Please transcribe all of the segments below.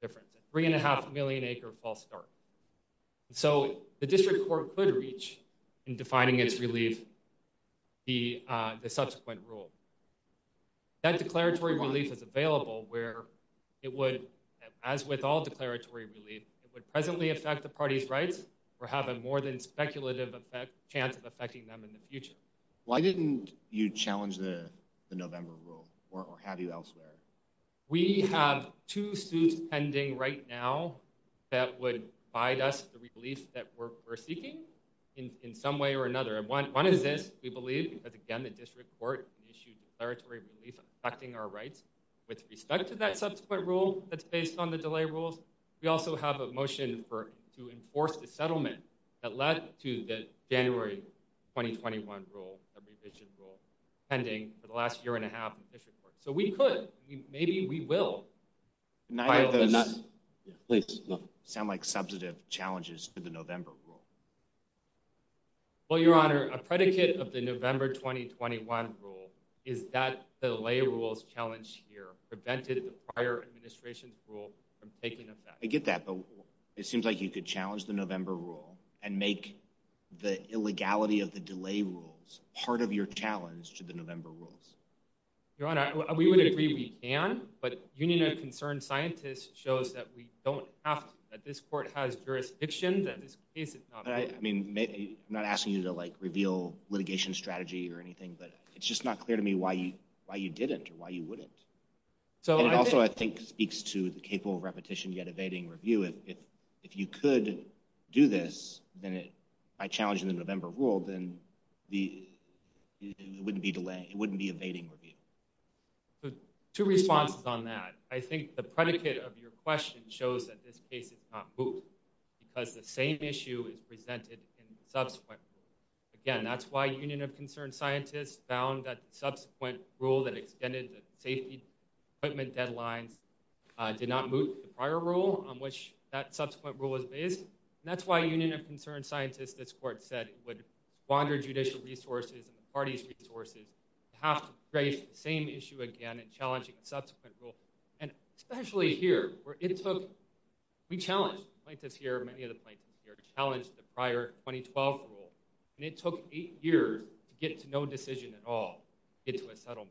difference three and a half million acre false start so the district court could reach in defining its relief the uh the subsequent rule that declaratory relief is available where it would as with all declaratory relief it would presently affect the party's rights or have a more than speculative effect chance of affecting them in the future why didn't you challenge the november rule or how do you elsewhere we have two suits pending right now that would provide us the relief that we're seeking in in some way or another and one one is this we believe because again the district court issued declaratory relief affecting our rights with respect to that subsequent rule that's based on the delay rules we also have a motion to enforce the settlement that led to the january 2021 rule a revision rule pending for the last year and a half in the district court so we could maybe we will sound like substantive challenges to the november rule well your honor a predicate of the november 2021 rule is that the lay rules challenge here prevented the prior administration's rule from challenging the november rule and make the illegality of the delay rules part of your challenge to the november rules your honor we would agree we can but union of concern scientists shows that we don't have that this court has jurisdiction that this case is not i mean maybe i'm not asking you to like reveal litigation strategy or anything but it's just not clear to me why you why you didn't or why you wouldn't so and also i think speaks to the capable repetition yet evading review if if you could do this then it by challenging the november rule then the it wouldn't be delay it wouldn't be evading review so two responses on that i think the predicate of your question shows that this case is not moved because the same issue is presented in subsequent again that's why union of concern scientists found that subsequent rule that on which that subsequent rule is based and that's why union of concern scientists this court said would squander judicial resources and the party's resources to have to trace the same issue again and challenging the subsequent rule and especially here where it took we challenged plaintiffs here many of the plaintiffs here challenged the prior 2012 rule and it took eight years to get to no decision at all get to a settlement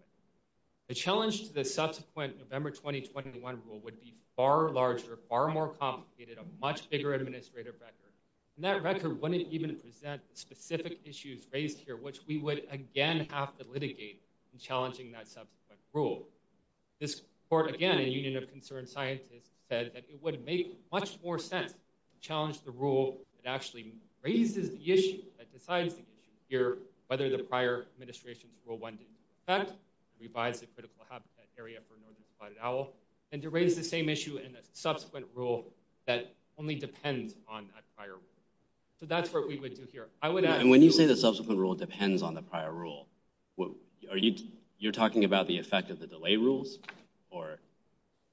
the challenge to the subsequent november 2021 rule would be far larger far more complicated a much bigger administrative record and that record wouldn't even present specific issues raised here which we would again have to litigate in challenging that subsequent rule this court again in union of concern scientists said that it would make much more sense to challenge the rule that actually raises the issue that decides the issue here whether the prior administration's rule one didn't affect to revise the critical habitat area for subsequent rule that only depends on a prior rule so that's what we would do here i would and when you say the subsequent rule depends on the prior rule what are you you're talking about the effect of the delay rules or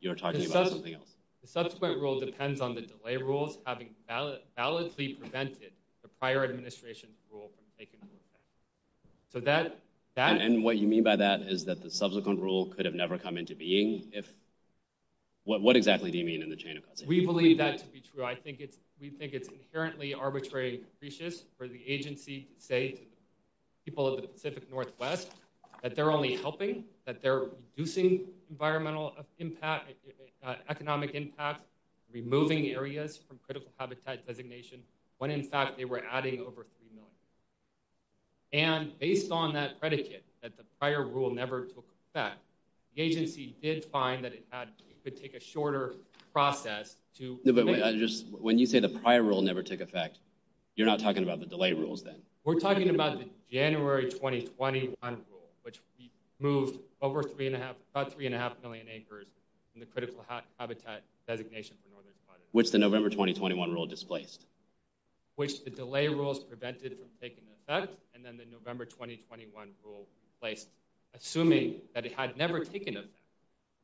you're talking about something else the subsequent rule depends on the delay rules having valid validly prevented the prior administration's rule from taking so that that and what you mean by that is that the subsequent rule could have never come into being if what what exactly do you mean in the chain of custody we believe that to be true i think it's we think it's inherently arbitrary and capricious for the agency to say to the people of the pacific northwest that they're only helping that they're reducing environmental impact economic impact removing areas from critical habitat designation when in fact they were adding over three million acres and based on that predicate that the prior rule never took effect the agency did find that it had to take a shorter process to just when you say the prior rule never took effect you're not talking about the delay rules then we're talking about the january 2021 rule which we moved over three and a half about three and a half million acres in the critical habitat designation for and then the november 2021 rule placed assuming that it had never taken effect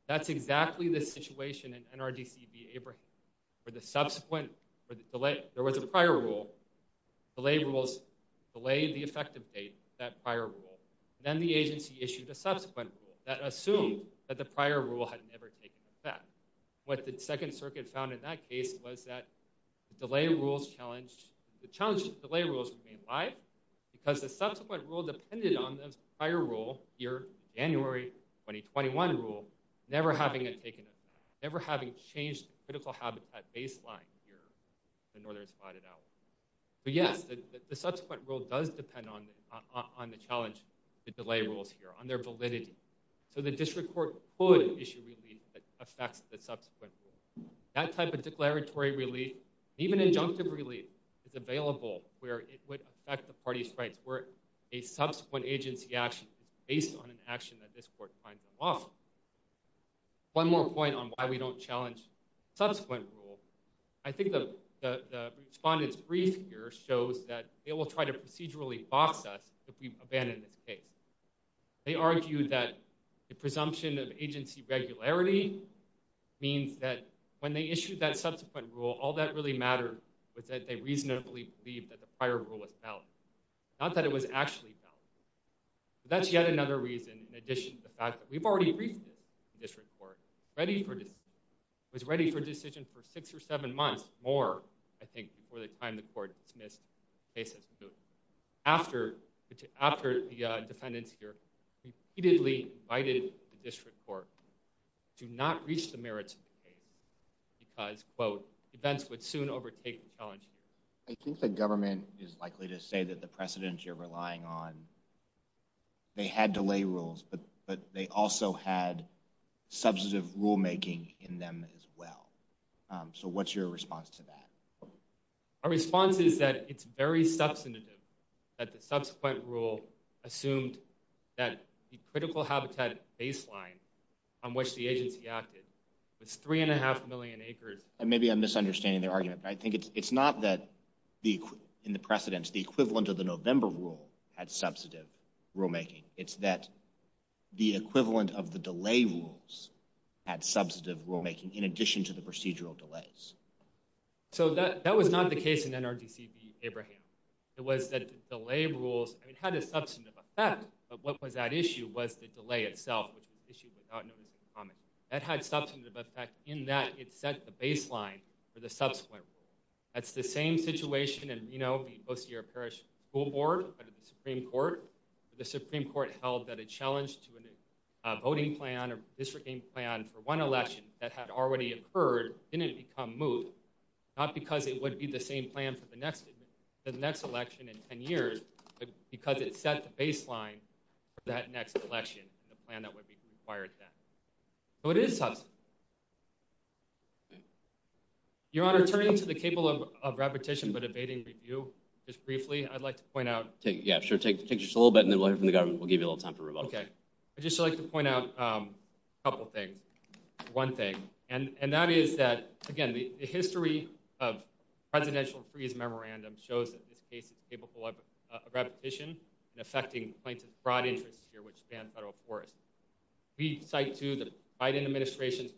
that's exactly the situation in nrdcb abraham for the subsequent for the delay there was a prior rule delay rules delayed the effective date that prior rule then the agency issued a subsequent rule that assumed that the prior rule had never taken effect what the second circuit found in that case was that the delay rules challenged the challenge delay rules remain live because the subsequent rule depended on this prior rule here january 2021 rule never having a taken effect never having changed critical habitat baseline here the northern spotted owl but yes the subsequent rule does depend on on the challenge the delay rules here on their validity so the district could issue relief that affects the subsequent rule that type of declaratory relief even injunctive relief is available where it would affect the party's rights where a subsequent agency action is based on an action that this court finds them off one more point on why we don't challenge subsequent rule i think the the respondents brief here shows that they will try to procedurally box us if we abandon this case they argued that the presumption of agency regularity means that when they issued that subsequent rule all that really mattered was that they reasonably believed that the prior rule was valid not that it was actually valid but that's yet another reason in addition to the fact that we've already briefed this district court ready for this was ready for decision for six or seven months more i think before the time the court dismissed cases after after the defendants here repeatedly invited the district court to not reach the merits of the case because quote events would soon overtake the challenge here i think the government is likely to say that the precedents you're relying on they had delay rules but but they also had substantive rule making in them as well so what's your response to that our response is that it's very substantive that the subsequent rule assumed that the critical habitat baseline on which the agency acted was three and a half million acres and maybe i'm misunderstanding their argument but i think it's it's not that the in the precedents the equivalent of the november rule had substantive rule making it's that the equivalent of the delay rules had substantive rule making in addition to the procedural delays so that that was not the case in nrdcb abraham it was that delay rules and it had a substantive effect but what was that issue was the delay itself which was issued without notice of comment that had substantive effect in that it set the baseline for the subsequent rule that's the same situation and you know the ocr parish school board under the supreme court the supreme court held that a challenge to a voting plan or districting plan for one election that had already occurred didn't become moot not because it would be the same plan for the next the next election in 10 years but because it set the baseline for that next election the plan that would be required then so it is your honor turning to the cable of repetition but abating review just briefly i'd like to point out take yeah sure take pictures a little bit and then we'll hear from the government we'll give you a little time for okay i'd just like to point out a couple things one thing and and that is that again the history of presidential freeze memorandum shows that this case is capable of repetition and affecting plaintiff's broad interests here which span federal forests we cite to the biden administration's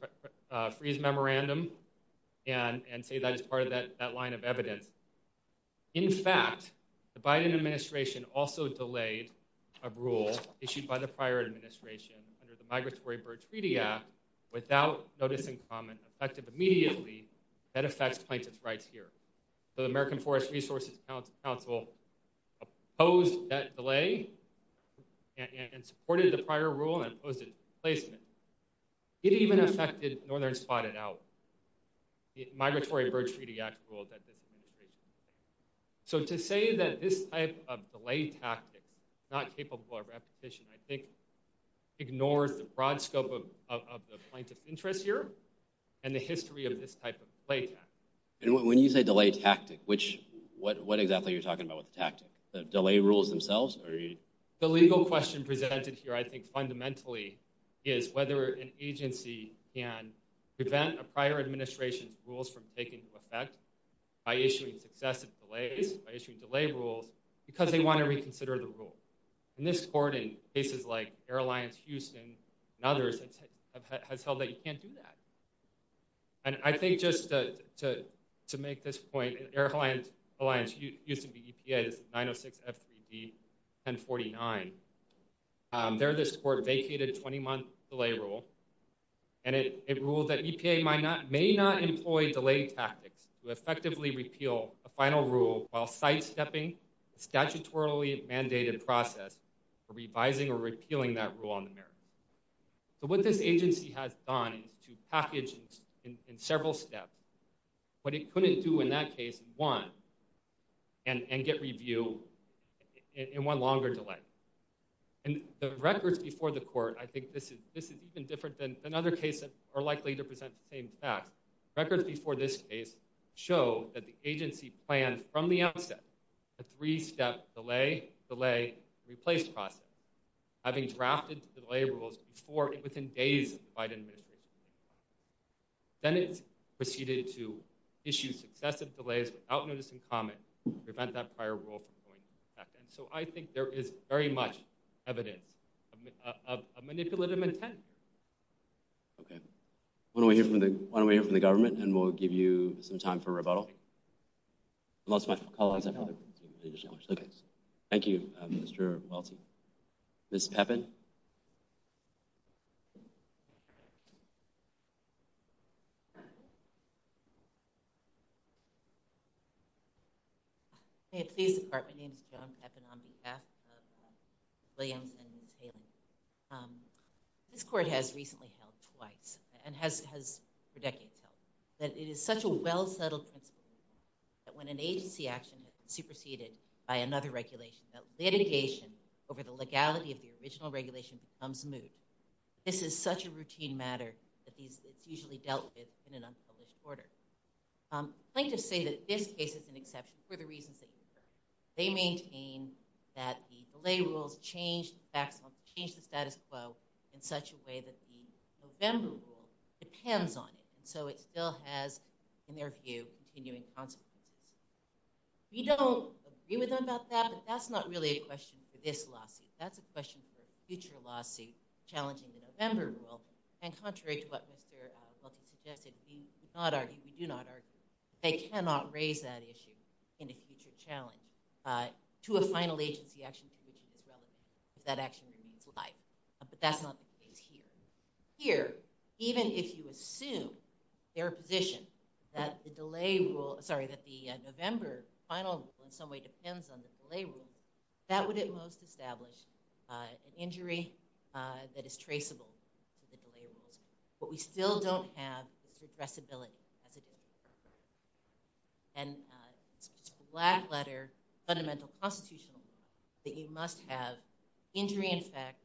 uh freeze memorandum and and say that's part of that that line of evidence in fact the biden administration also delayed a rule issued by the prior administration under the migratory bird treaty act without notice in common effective immediately that affects plaintiff's rights here so the american forest resources council opposed that delay and supported the prior rule and opposed it placement it even affected northern spotted out the migratory bird treaty act rule that this administration so to say that this type of delay tactics not capable of repetition i think ignores the broad scope of of the plaintiff's interests here and the history of this type of play and when you say delay tactic which what what exactly you're talking about with the tactic the delay rules themselves or the legal question presented here i think fundamentally is whether an agency can prevent a prior administration's rules from taking to effect by issuing successive delays by issuing delay rules because they want to reconsider the rule and this court in cases like airlines houston and others have has held that you can't do that and i think just to to make this point an airline alliance used to be epa's 906 f3d 1049 um there this court vacated 20-month delay rule and it ruled that epa might not may not employ delay tactics to effectively repeal a final rule while sidestepping a statutorily mandated process for revising or repealing that rule on the mirror so what this agency has done is to package in several steps what it couldn't do in that case one and and get review in one longer delay and the records before the court i think this is this is even different than another case that are likely to present the same facts records before this case show that the agency planned from the outset a three-step delay delay replace process having drafted delay rules before within days by the administration then it proceeded to issue successive delays without notice and comment prevent that prior rule from going and so i think there is very much evidence of a manipulative intent okay when we hear from the when we hear from the government and we'll give you some time for rebuttal unless my colleagues okay thank you mr welty miss peppin hey please depart my name is john peppin on behalf of williams and hailing um this court has recently twice and has has for decades held that it is such a well-settled principle that when an agency action has superseded by another regulation that litigation over the legality of the original regulation becomes moot this is such a routine matter that these it's usually dealt with in an unpublished order i'm going to say that this case is an exception for the reasons that they maintain that the delay rules changed maximum change the status quo in such a way that the november rule depends on it and so it still has in their view continuing consequences we don't agree with them about that but that's not really a question for this lawsuit that's a question for a future lawsuit challenging the november rule and contrary to what mr welton suggested we do not argue we final agency action to which it is relevant if that action remains live but that's not the case here here even if you assume their position that the delay rule sorry that the november final in some way depends on the delay rule that would at most establish uh an injury uh that is traceable to the delay rules but we still don't have this addressability as it is and it's just a black letter fundamental constitutional that you must have injury in fact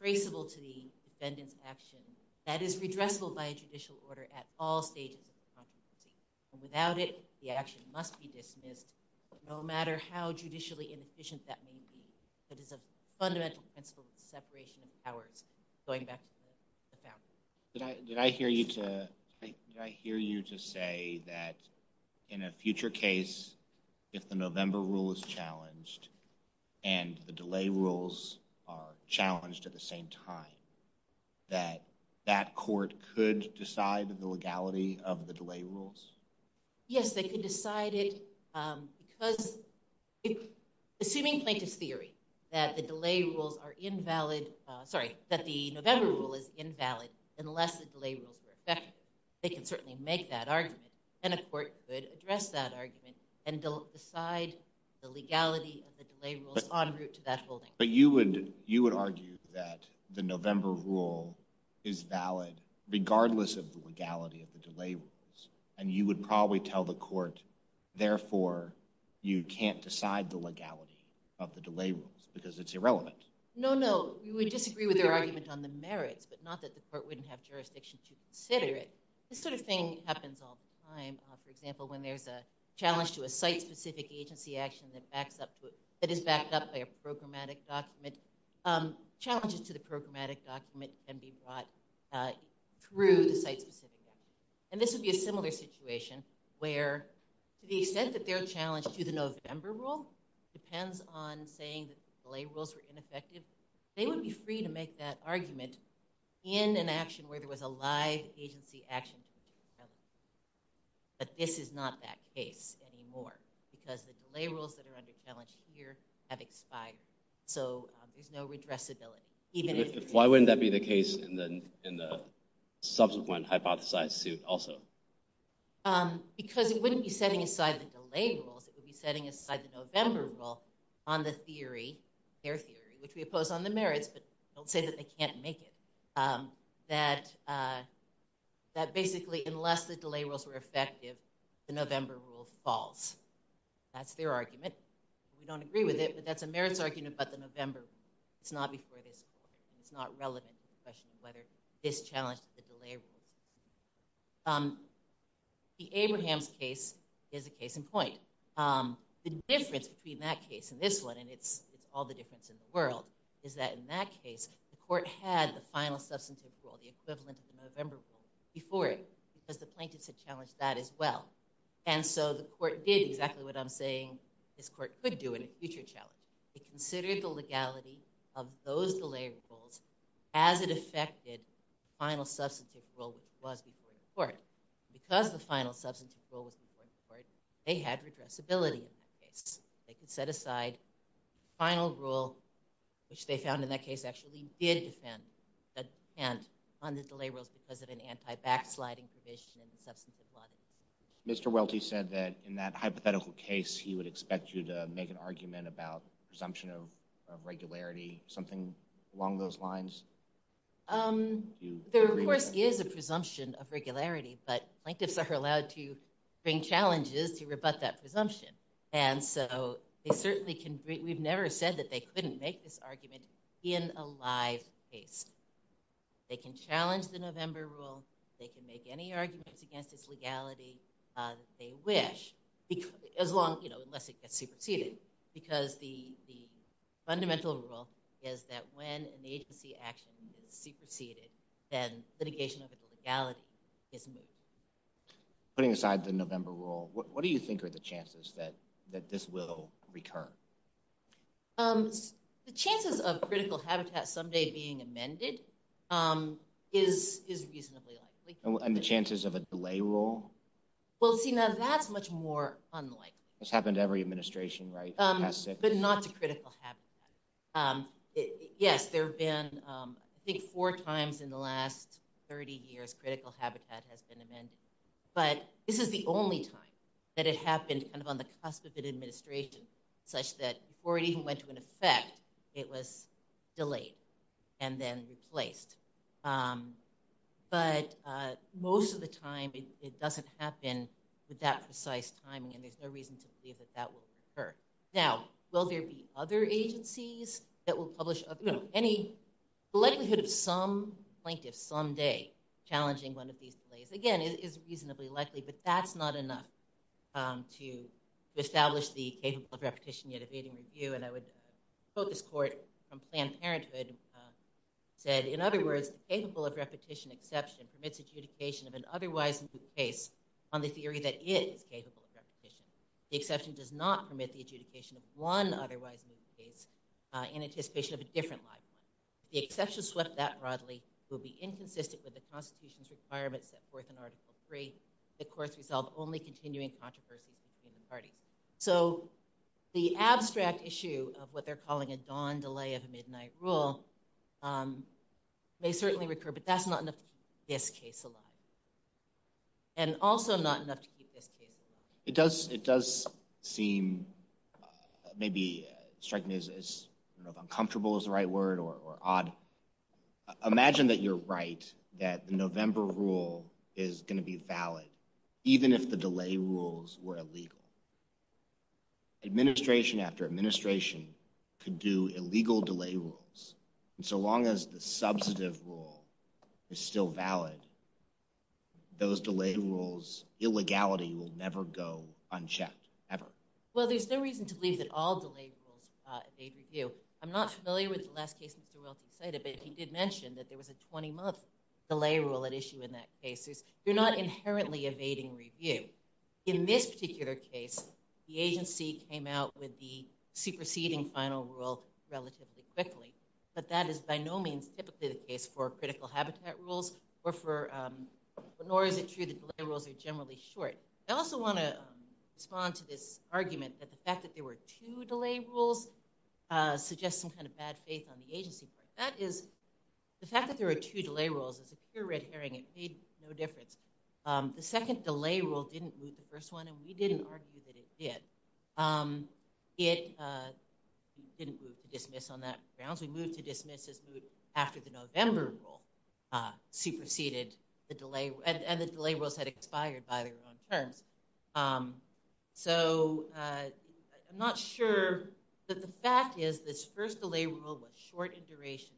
traceable to the defendant's action that is redressable by a judicial order at all stages of the controversy and without it the action must be dismissed no matter how judicially inefficient that may be that is a fundamental principle of separation of powers going back to the family did i did i hear you to did i hear you to say that in a future case if the november rule is challenged and the delay rules are challenged at the same time that that court could decide the legality of the delay rules yes they could decide it um because assuming plaintiff's theory that the delay rules are invalid sorry that the november rule is invalid unless the delay rules were effective they can certainly make that argument and a court could address that argument and decide the legality of the delay rules en route to that holding but you would you would argue that the november rule is valid regardless of the legality of the delay rules and you would probably tell the court therefore you can't decide the legality of the delay rules because it's irrelevant no no you would disagree with your argument on the merits but not that the court wouldn't have jurisdiction to consider it this sort of thing happens all the time for example when there's a challenge to a site-specific agency action that backs up to it that is backed up by a programmatic document um challenges to the programmatic document can be brought uh through the site-specific and this would be a similar situation where to the extent that they're challenged to the november rule depends on saying that the delay rules were ineffective they would be free to make that argument in an action where there was a live agency action but this is not that case anymore because the delay rules that are under challenge here have expired so there's no redressability even if why wouldn't that be the case in the in the subsequent hypothesized suit also um because it wouldn't be setting aside the delay rules it would be setting aside the november rule on the theory their theory which we oppose on the merits but don't say that they can't make it um that uh that basically unless the delay rules were effective the november rule falls that's their argument we don't agree with it but that's a merits argument but the november it's not before this court it's not relevant to the question of whether this challenged the delay rules um the abraham's case is a case in point um the difference between that case and this one and it's it's all the difference in the world is that in that case the court had the final substantive rule the equivalent of the november rule before it because the plaintiffs had challenged that as well and so the court did exactly what i'm saying this court could do in a future challenge it considered the legality of those delay rules as it affected final substantive rule which was before the court because the final substantive rule was before the court they had redressability in that case they could set aside final rule which they found in that case actually did defend that and on the delay rules because of an anti-backsliding provision of blood mr welty said that in that hypothetical case he would expect you to make an argument about presumption of regularity something along those lines um there of course is a presumption of regularity but plaintiffs are allowed to bring challenges to rebut that presumption and so they certainly can we've never said that they couldn't make this argument in a live case they can challenge the november rule they can make any arguments against this legality uh they wish because as long you know unless it gets superseded because the the fundamental rule is that when an agency action is superseded then litigation over the legality is moved putting aside the november rule what do you think are the chances that that this will recur um the chances of critical habitat someday being amended um is is reasonably likely and the chances of a delay rule well see now that's much more unlikely this happened every administration right um but not to critical habitat um yes there have been um i think four times in the last 30 years critical habitat has been amended but this is the only time that it happened kind of on the administration such that before it even went to an effect it was delayed and then replaced um but uh most of the time it doesn't happen with that precise timing and there's no reason to believe that that will occur now will there be other agencies that will publish any likelihood of some plaintiffs someday challenging one of these delays again is reasonably likely but that's not enough um to establish the capable of repetition yet evading review and i would quote this court from Planned Parenthood said in other words capable of repetition exception permits adjudication of an otherwise new case on the theory that it is capable of repetition the exception does not permit the adjudication of one otherwise new case in anticipation of a different live one the exception swept that broadly will be inconsistent with the constitution's requirements that fourth and article three the courts resolve only continuing controversies between the parties so the abstract issue of what they're calling a dawn delay of a midnight rule um may certainly recur but that's not enough to keep this case alive and also not enough to keep this case it does it does seem maybe strike me as uncomfortable is the right word or or odd imagine that you're right that the november rule is going to be valid even if the delay rules were illegal administration after administration could do illegal delay rules and so long as the substantive rule is still valid those delay rules illegality will never go unchecked ever well there's no reason to believe that all delay rules uh they'd review i'm not familiar with the last case mr welton cited but he did mention that there was a 20 month delay rule at issue in that case is you're not inherently evading review in this particular case the agency came out with the superseding final rule relatively quickly but that is by no means typically the case for critical habitat rules or for um nor is it true the delay rules are generally short i also want to respond to this argument that the fact that there were two delay rules uh suggests some kind of bad faith on the agency part that is the fact that there are two delay rules is a pure red herring it made no difference um the second delay rule didn't move the first one and we didn't argue that it did um it uh didn't move to dismiss on that grounds we moved to dismiss as moved after the november rule uh superseded the delay and the delay rules had expired by their own terms um so uh i'm not sure that the fact is this first delay rule was short in duration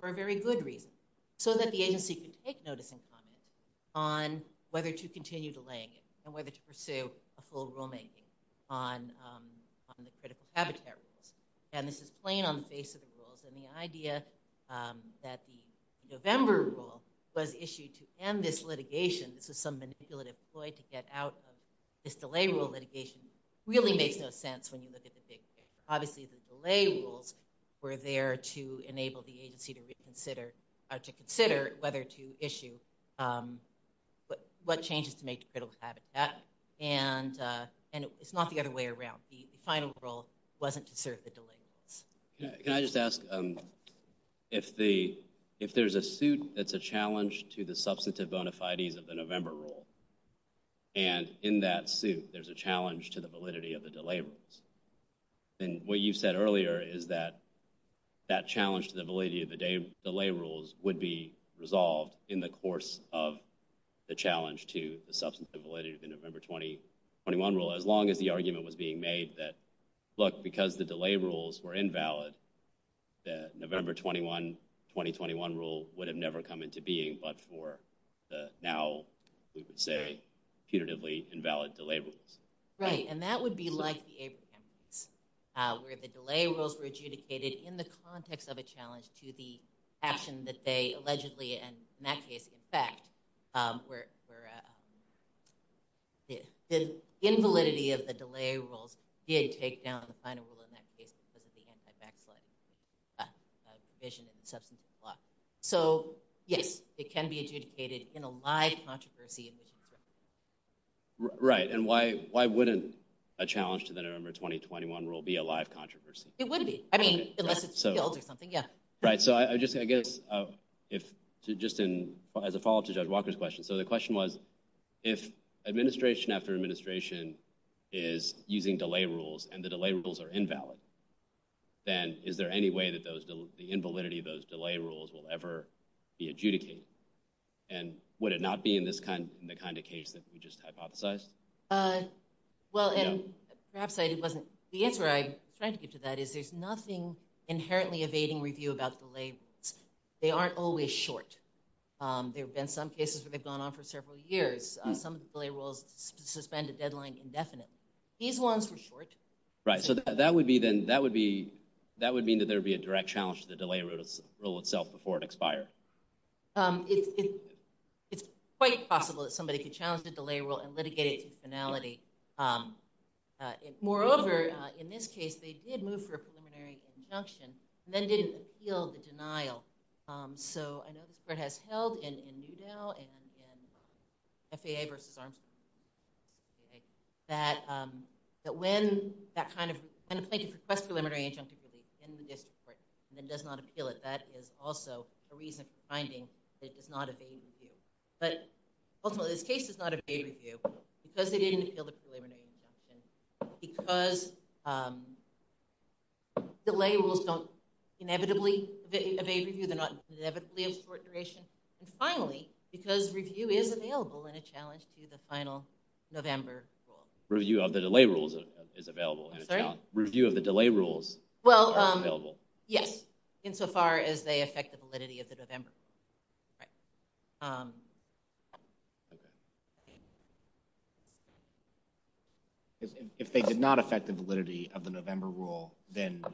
for a very good reason so that the agency could take notice and comment on whether to continue delaying it and whether to pursue a full rule making on um on the critical habitat rules and this is plain on the face of the rules and the idea um that the november rule was issued to end this litigation this is some manipulative ploy to get out of this delay rule litigation really makes no sense when you look at the big obviously the delay rules were there to enable the agency to reconsider or to consider whether to issue um but what changes to make to critical habitat and uh and it's not the other way around the final rule wasn't to serve the delay rules can i just ask um if the if there's a suit that's a challenge to the substantive bona fides of the november rule and in that suit there's a challenge to the validity of the delay rules and what you said earlier is that that challenge to the validity of the day delay rules would be resolved in the course of the challenge to the substantive validity of the november 2021 rule as long as the argument was being made that look because the delay rules were invalid the november 21 2021 rule would have never come into being but for the now we would say punitively invalid delay rules right and that would be like the abrams where the delay rules were adjudicated in the context of a challenge to the action that they allegedly and in that case in fact um where the invalidity of the delay rules did take down the final rule in that case because of the anti-backsliding uh provision in the substantive law so yes it can be adjudicated in a live controversy right and why why wouldn't a challenge to the november 2021 rule be a live controversy it would be i mean unless it's killed or something yeah right so i just i guess uh if to just in as a follow-up to judge walker's question so the question was if administration after administration is using delay rules and the delay rules are invalid then is there any way that those the invalidity of those delay rules will ever be adjudicated and would it not be in this kind in the kind of case that we just hypothesized uh well and perhaps it wasn't the answer i tried to get to that is there's nothing inherently evading review about the labels they aren't always short um there have been some cases where they've gone on for several years some delay rules suspend a deadline indefinitely these ones were short right so that would be then that would be that would mean that there would be a direct challenge to the delay rule itself before it expired um it's it it's quite possible that somebody could challenge the delay rule and litigate it to finality um moreover in this case they did move for a preliminary injunction and then didn't appeal the denial um so i know this court has held in in newdale and in faa versus armstrong that um that when that kind of kind of plaintiff requests preliminary injunctive relief in the district court and then does not appeal it that is also a reason for finding that it does not evade review but ultimately this case does not evade review because they didn't appeal the preliminary injunction because um the labels don't inevitably evade review they're not inevitably of short duration and finally because review is available in a challenge to the final november rule review of the delay rules is available sorry review of the delay rules well um available yes insofar as affect the validity of the november right um okay if they did not affect the validity of the november rule then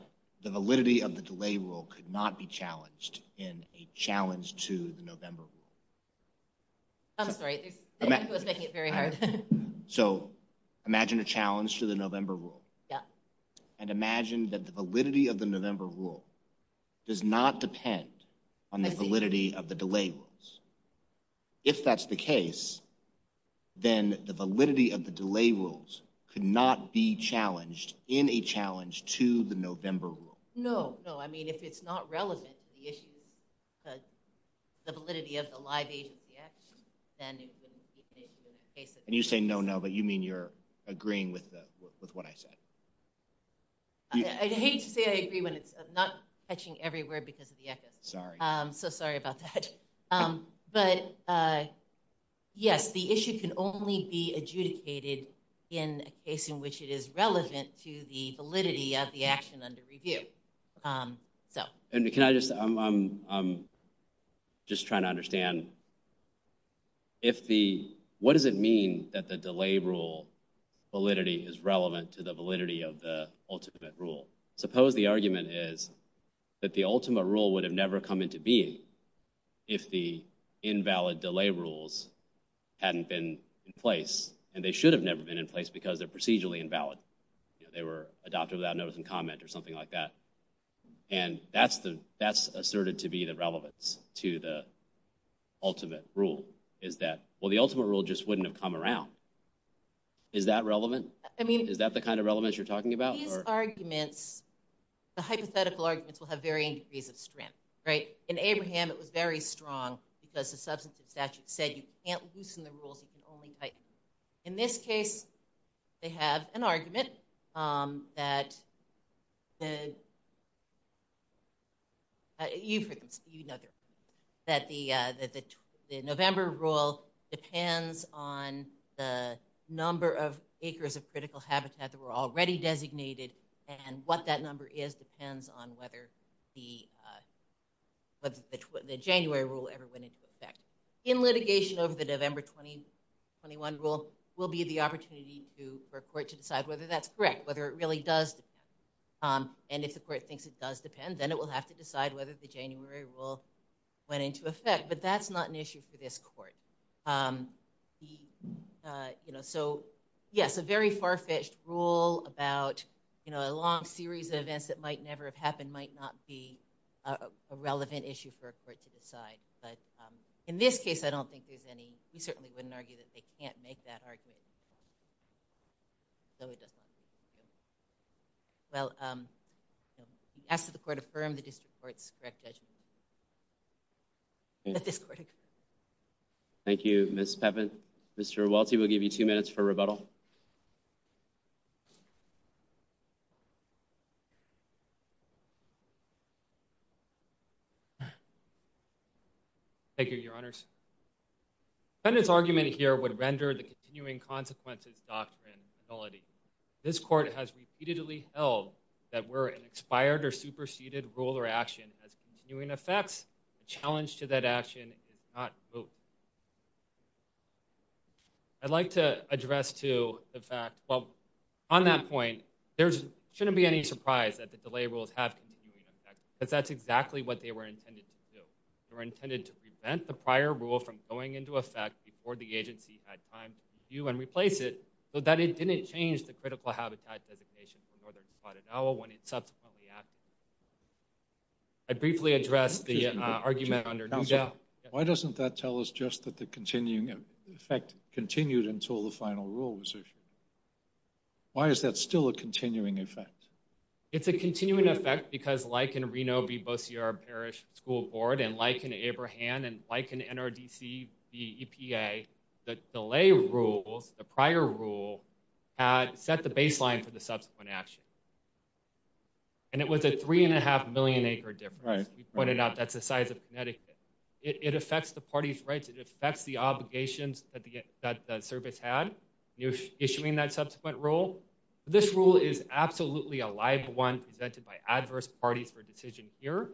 the validity of the delay rule could not be challenged in a challenge to the november rule i'm sorry it was making it very hard so imagine a challenge to the november rule yeah and imagine that the validity of the november rule does not depend on the validity of the delay rules if that's the case then the validity of the delay rules could not be challenged in a challenge to the november rule no no i mean if it's not relevant to the issues the validity of the live agency action then and you say no no but you mean you're agreeing with the with what i said i hate to say i agree when it's not catching every word because of the echoes sorry um so sorry about that um but uh yes the issue can only be adjudicated in a case in which it is relevant to the validity of the action under review um so and can i just i'm i'm i'm just trying to understand um if the what does it mean that the delay rule validity is relevant to the validity of the ultimate rule suppose the argument is that the ultimate rule would have never come into being if the invalid delay rules hadn't been in place and they should have never been in place because they're procedurally invalid you know they were adopted without notice and comment or something like that and that's the that's asserted to be the relevance to the ultimate rule is that well the ultimate rule just wouldn't have come around is that relevant i mean is that the kind of relevance you're talking about these arguments the hypothetical arguments will have varying degrees of strength right in abraham it was very strong because the substantive statute said you can't um that the you know that the uh that the november rule depends on the number of acres of critical habitat that were already designated and what that number is depends on whether the uh but the january rule ever went into effect in litigation over the november 2021 rule will be the opportunity to for a court to decide whether that's correct whether it really does depend um and if the court thinks it does depend then it will have to decide whether the january rule went into effect but that's not an issue for this court um he uh you know so yes a very far-fetched rule about you know a long series of events that might never have happened might not be a relevant issue for a court to decide but um in this case i don't think there's any we certainly wouldn't argue that they no it does not well um we asked the court affirmed the district court's correct judgment thank you miss peppin mr waltz will give you two minutes for rebuttal thank you your honors and this argument here would render the continuing consequences ability this court has repeatedly held that we're an expired or superseded rule or action has continuing effects a challenge to that action is not moved i'd like to address to the fact well on that point there's shouldn't be any surprise that the delay rules have continuing effect because that's exactly what they were intended to do they were intended to prevent the prior rule from going into effect before the agency had time to replace it so that it didn't change the critical habitat designation for northern spotted owl when it subsequently acted i briefly addressed the argument under why doesn't that tell us just that the continuing effect continued until the final rule was issued why is that still a continuing effect it's a continuing effect because like in reno be both your parish school board and like and like an nrdc the epa the delay rules the prior rule had set the baseline for the subsequent action and it was a three and a half million acre difference we pointed out that's the size of connecticut it affects the party's rights it affects the obligations that the that the service had you're issuing that subsequent rule this rule is absolutely a live one presented by adverse parties for decision here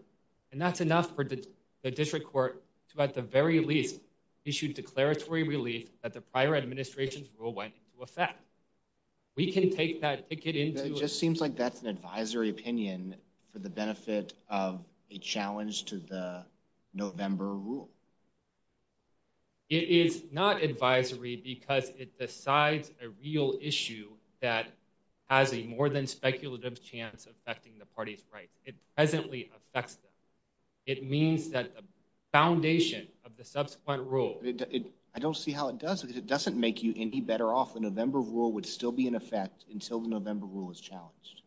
and that's enough for the district court to at the very least issue declaratory relief that the prior administration's rule went into effect we can take that ticket into it just seems like that's an advisory opinion for the benefit of a challenge to the november rule it is not advisory because it decides a real issue that has a more than speculative chance affecting the party's rights it presently affects them it means that the foundation of the subsequent rule it i don't see how it does because it doesn't make you any better off the november rule would still be in effect until the november rule is challenged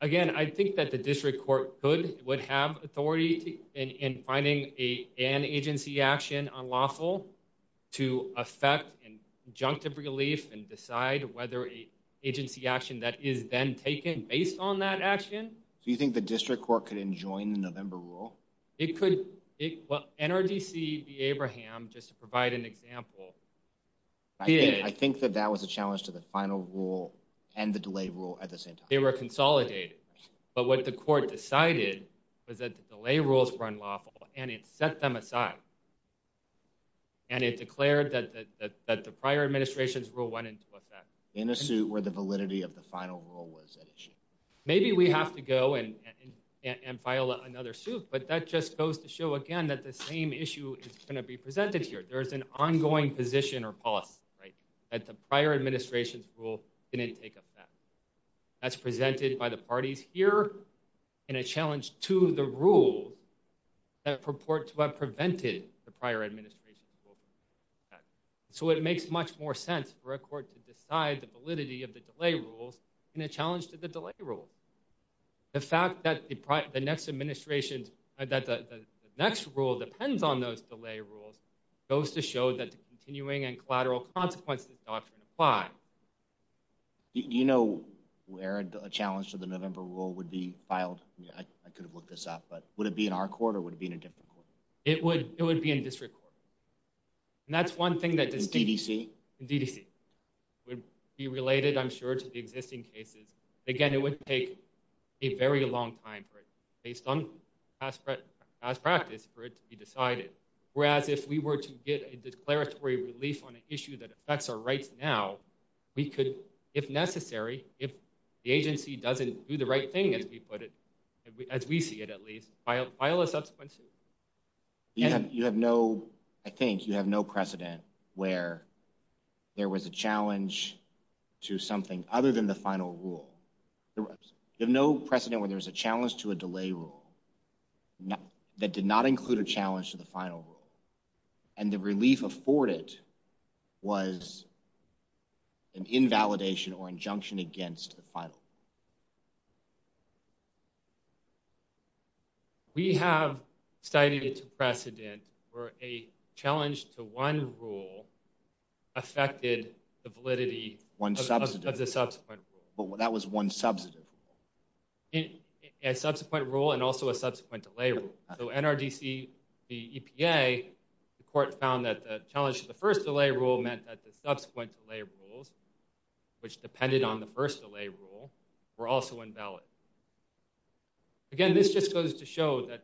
again i think that the district court could would have authority in finding a an agency action unlawful to affect and conjunctive relief and decide whether a agency action that is then taken based on that action do you think the district court could enjoin the november rule it could it well nrdc be abraham just to provide an example i think that that was a challenge to the final rule and the delay rule at the same time they were consolidated but what the court decided was that the delay rules were unlawful and it set them aside and it declared that that the prior administration's rule went into effect in a suit where the validity of the final rule was at issue maybe we have to go and and file another suit but that just goes to show again that the same issue is going to be presented here there is an ongoing position or policy right that the prior administration's rule didn't take that's presented by the parties here in a challenge to the rules that purport to have prevented the prior administration so it makes much more sense for a court to decide the validity of the delay rules in a challenge to the delay rule the fact that the next administration's that the next rule depends on those delay rules goes to show that the continuing and you know where a challenge to the november rule would be filed yeah i could have looked this up but would it be in our court or would it be in a different court it would it would be in district court and that's one thing that ddc ddc would be related i'm sure to the existing cases again it would take a very long time for it based on past practice for it to be decided whereas if we were get a declaratory relief on an issue that affects our rights now we could if necessary if the agency doesn't do the right thing as we put it as we see it at least file a subsequent suit you have you have no i think you have no precedent where there was a challenge to something other than the final rule you have no precedent when there's a challenge to a delay rule that did not include a challenge to the final rule and the relief afforded was an invalidation or injunction against the final we have cited it to precedent where a challenge to one rule affected the validity one substance of the subsequent but that was one substantive a subsequent rule and also a subsequent delay rule so nrdc the epa the court found that the challenge to the first delay rule meant that the subsequent delay rules which depended on the first delay rule were also invalid again this just goes to show that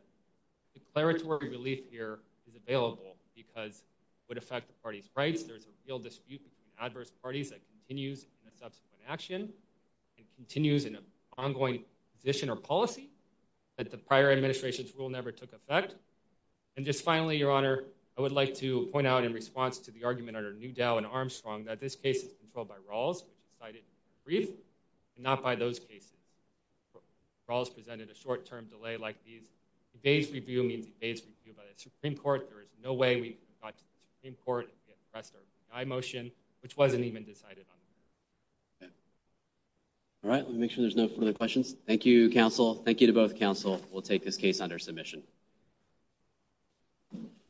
declaratory relief here is available because it would affect the party's rights there's a real dispute between adverse parties that continues in a subsequent action and continues in an ongoing position or policy that the prior administration's rule never took effect and just finally your honor i would like to point out in response to the argument under new dow and armstrong that this case is controlled by rawls which decided brief and not by those cases rawls presented a short-term delay like these evades review means evades review by the supreme court there is no way we got to the i motion which wasn't even decided on all right let me make sure there's no further questions thank you counsel thank you to both counsel we'll take this case under submission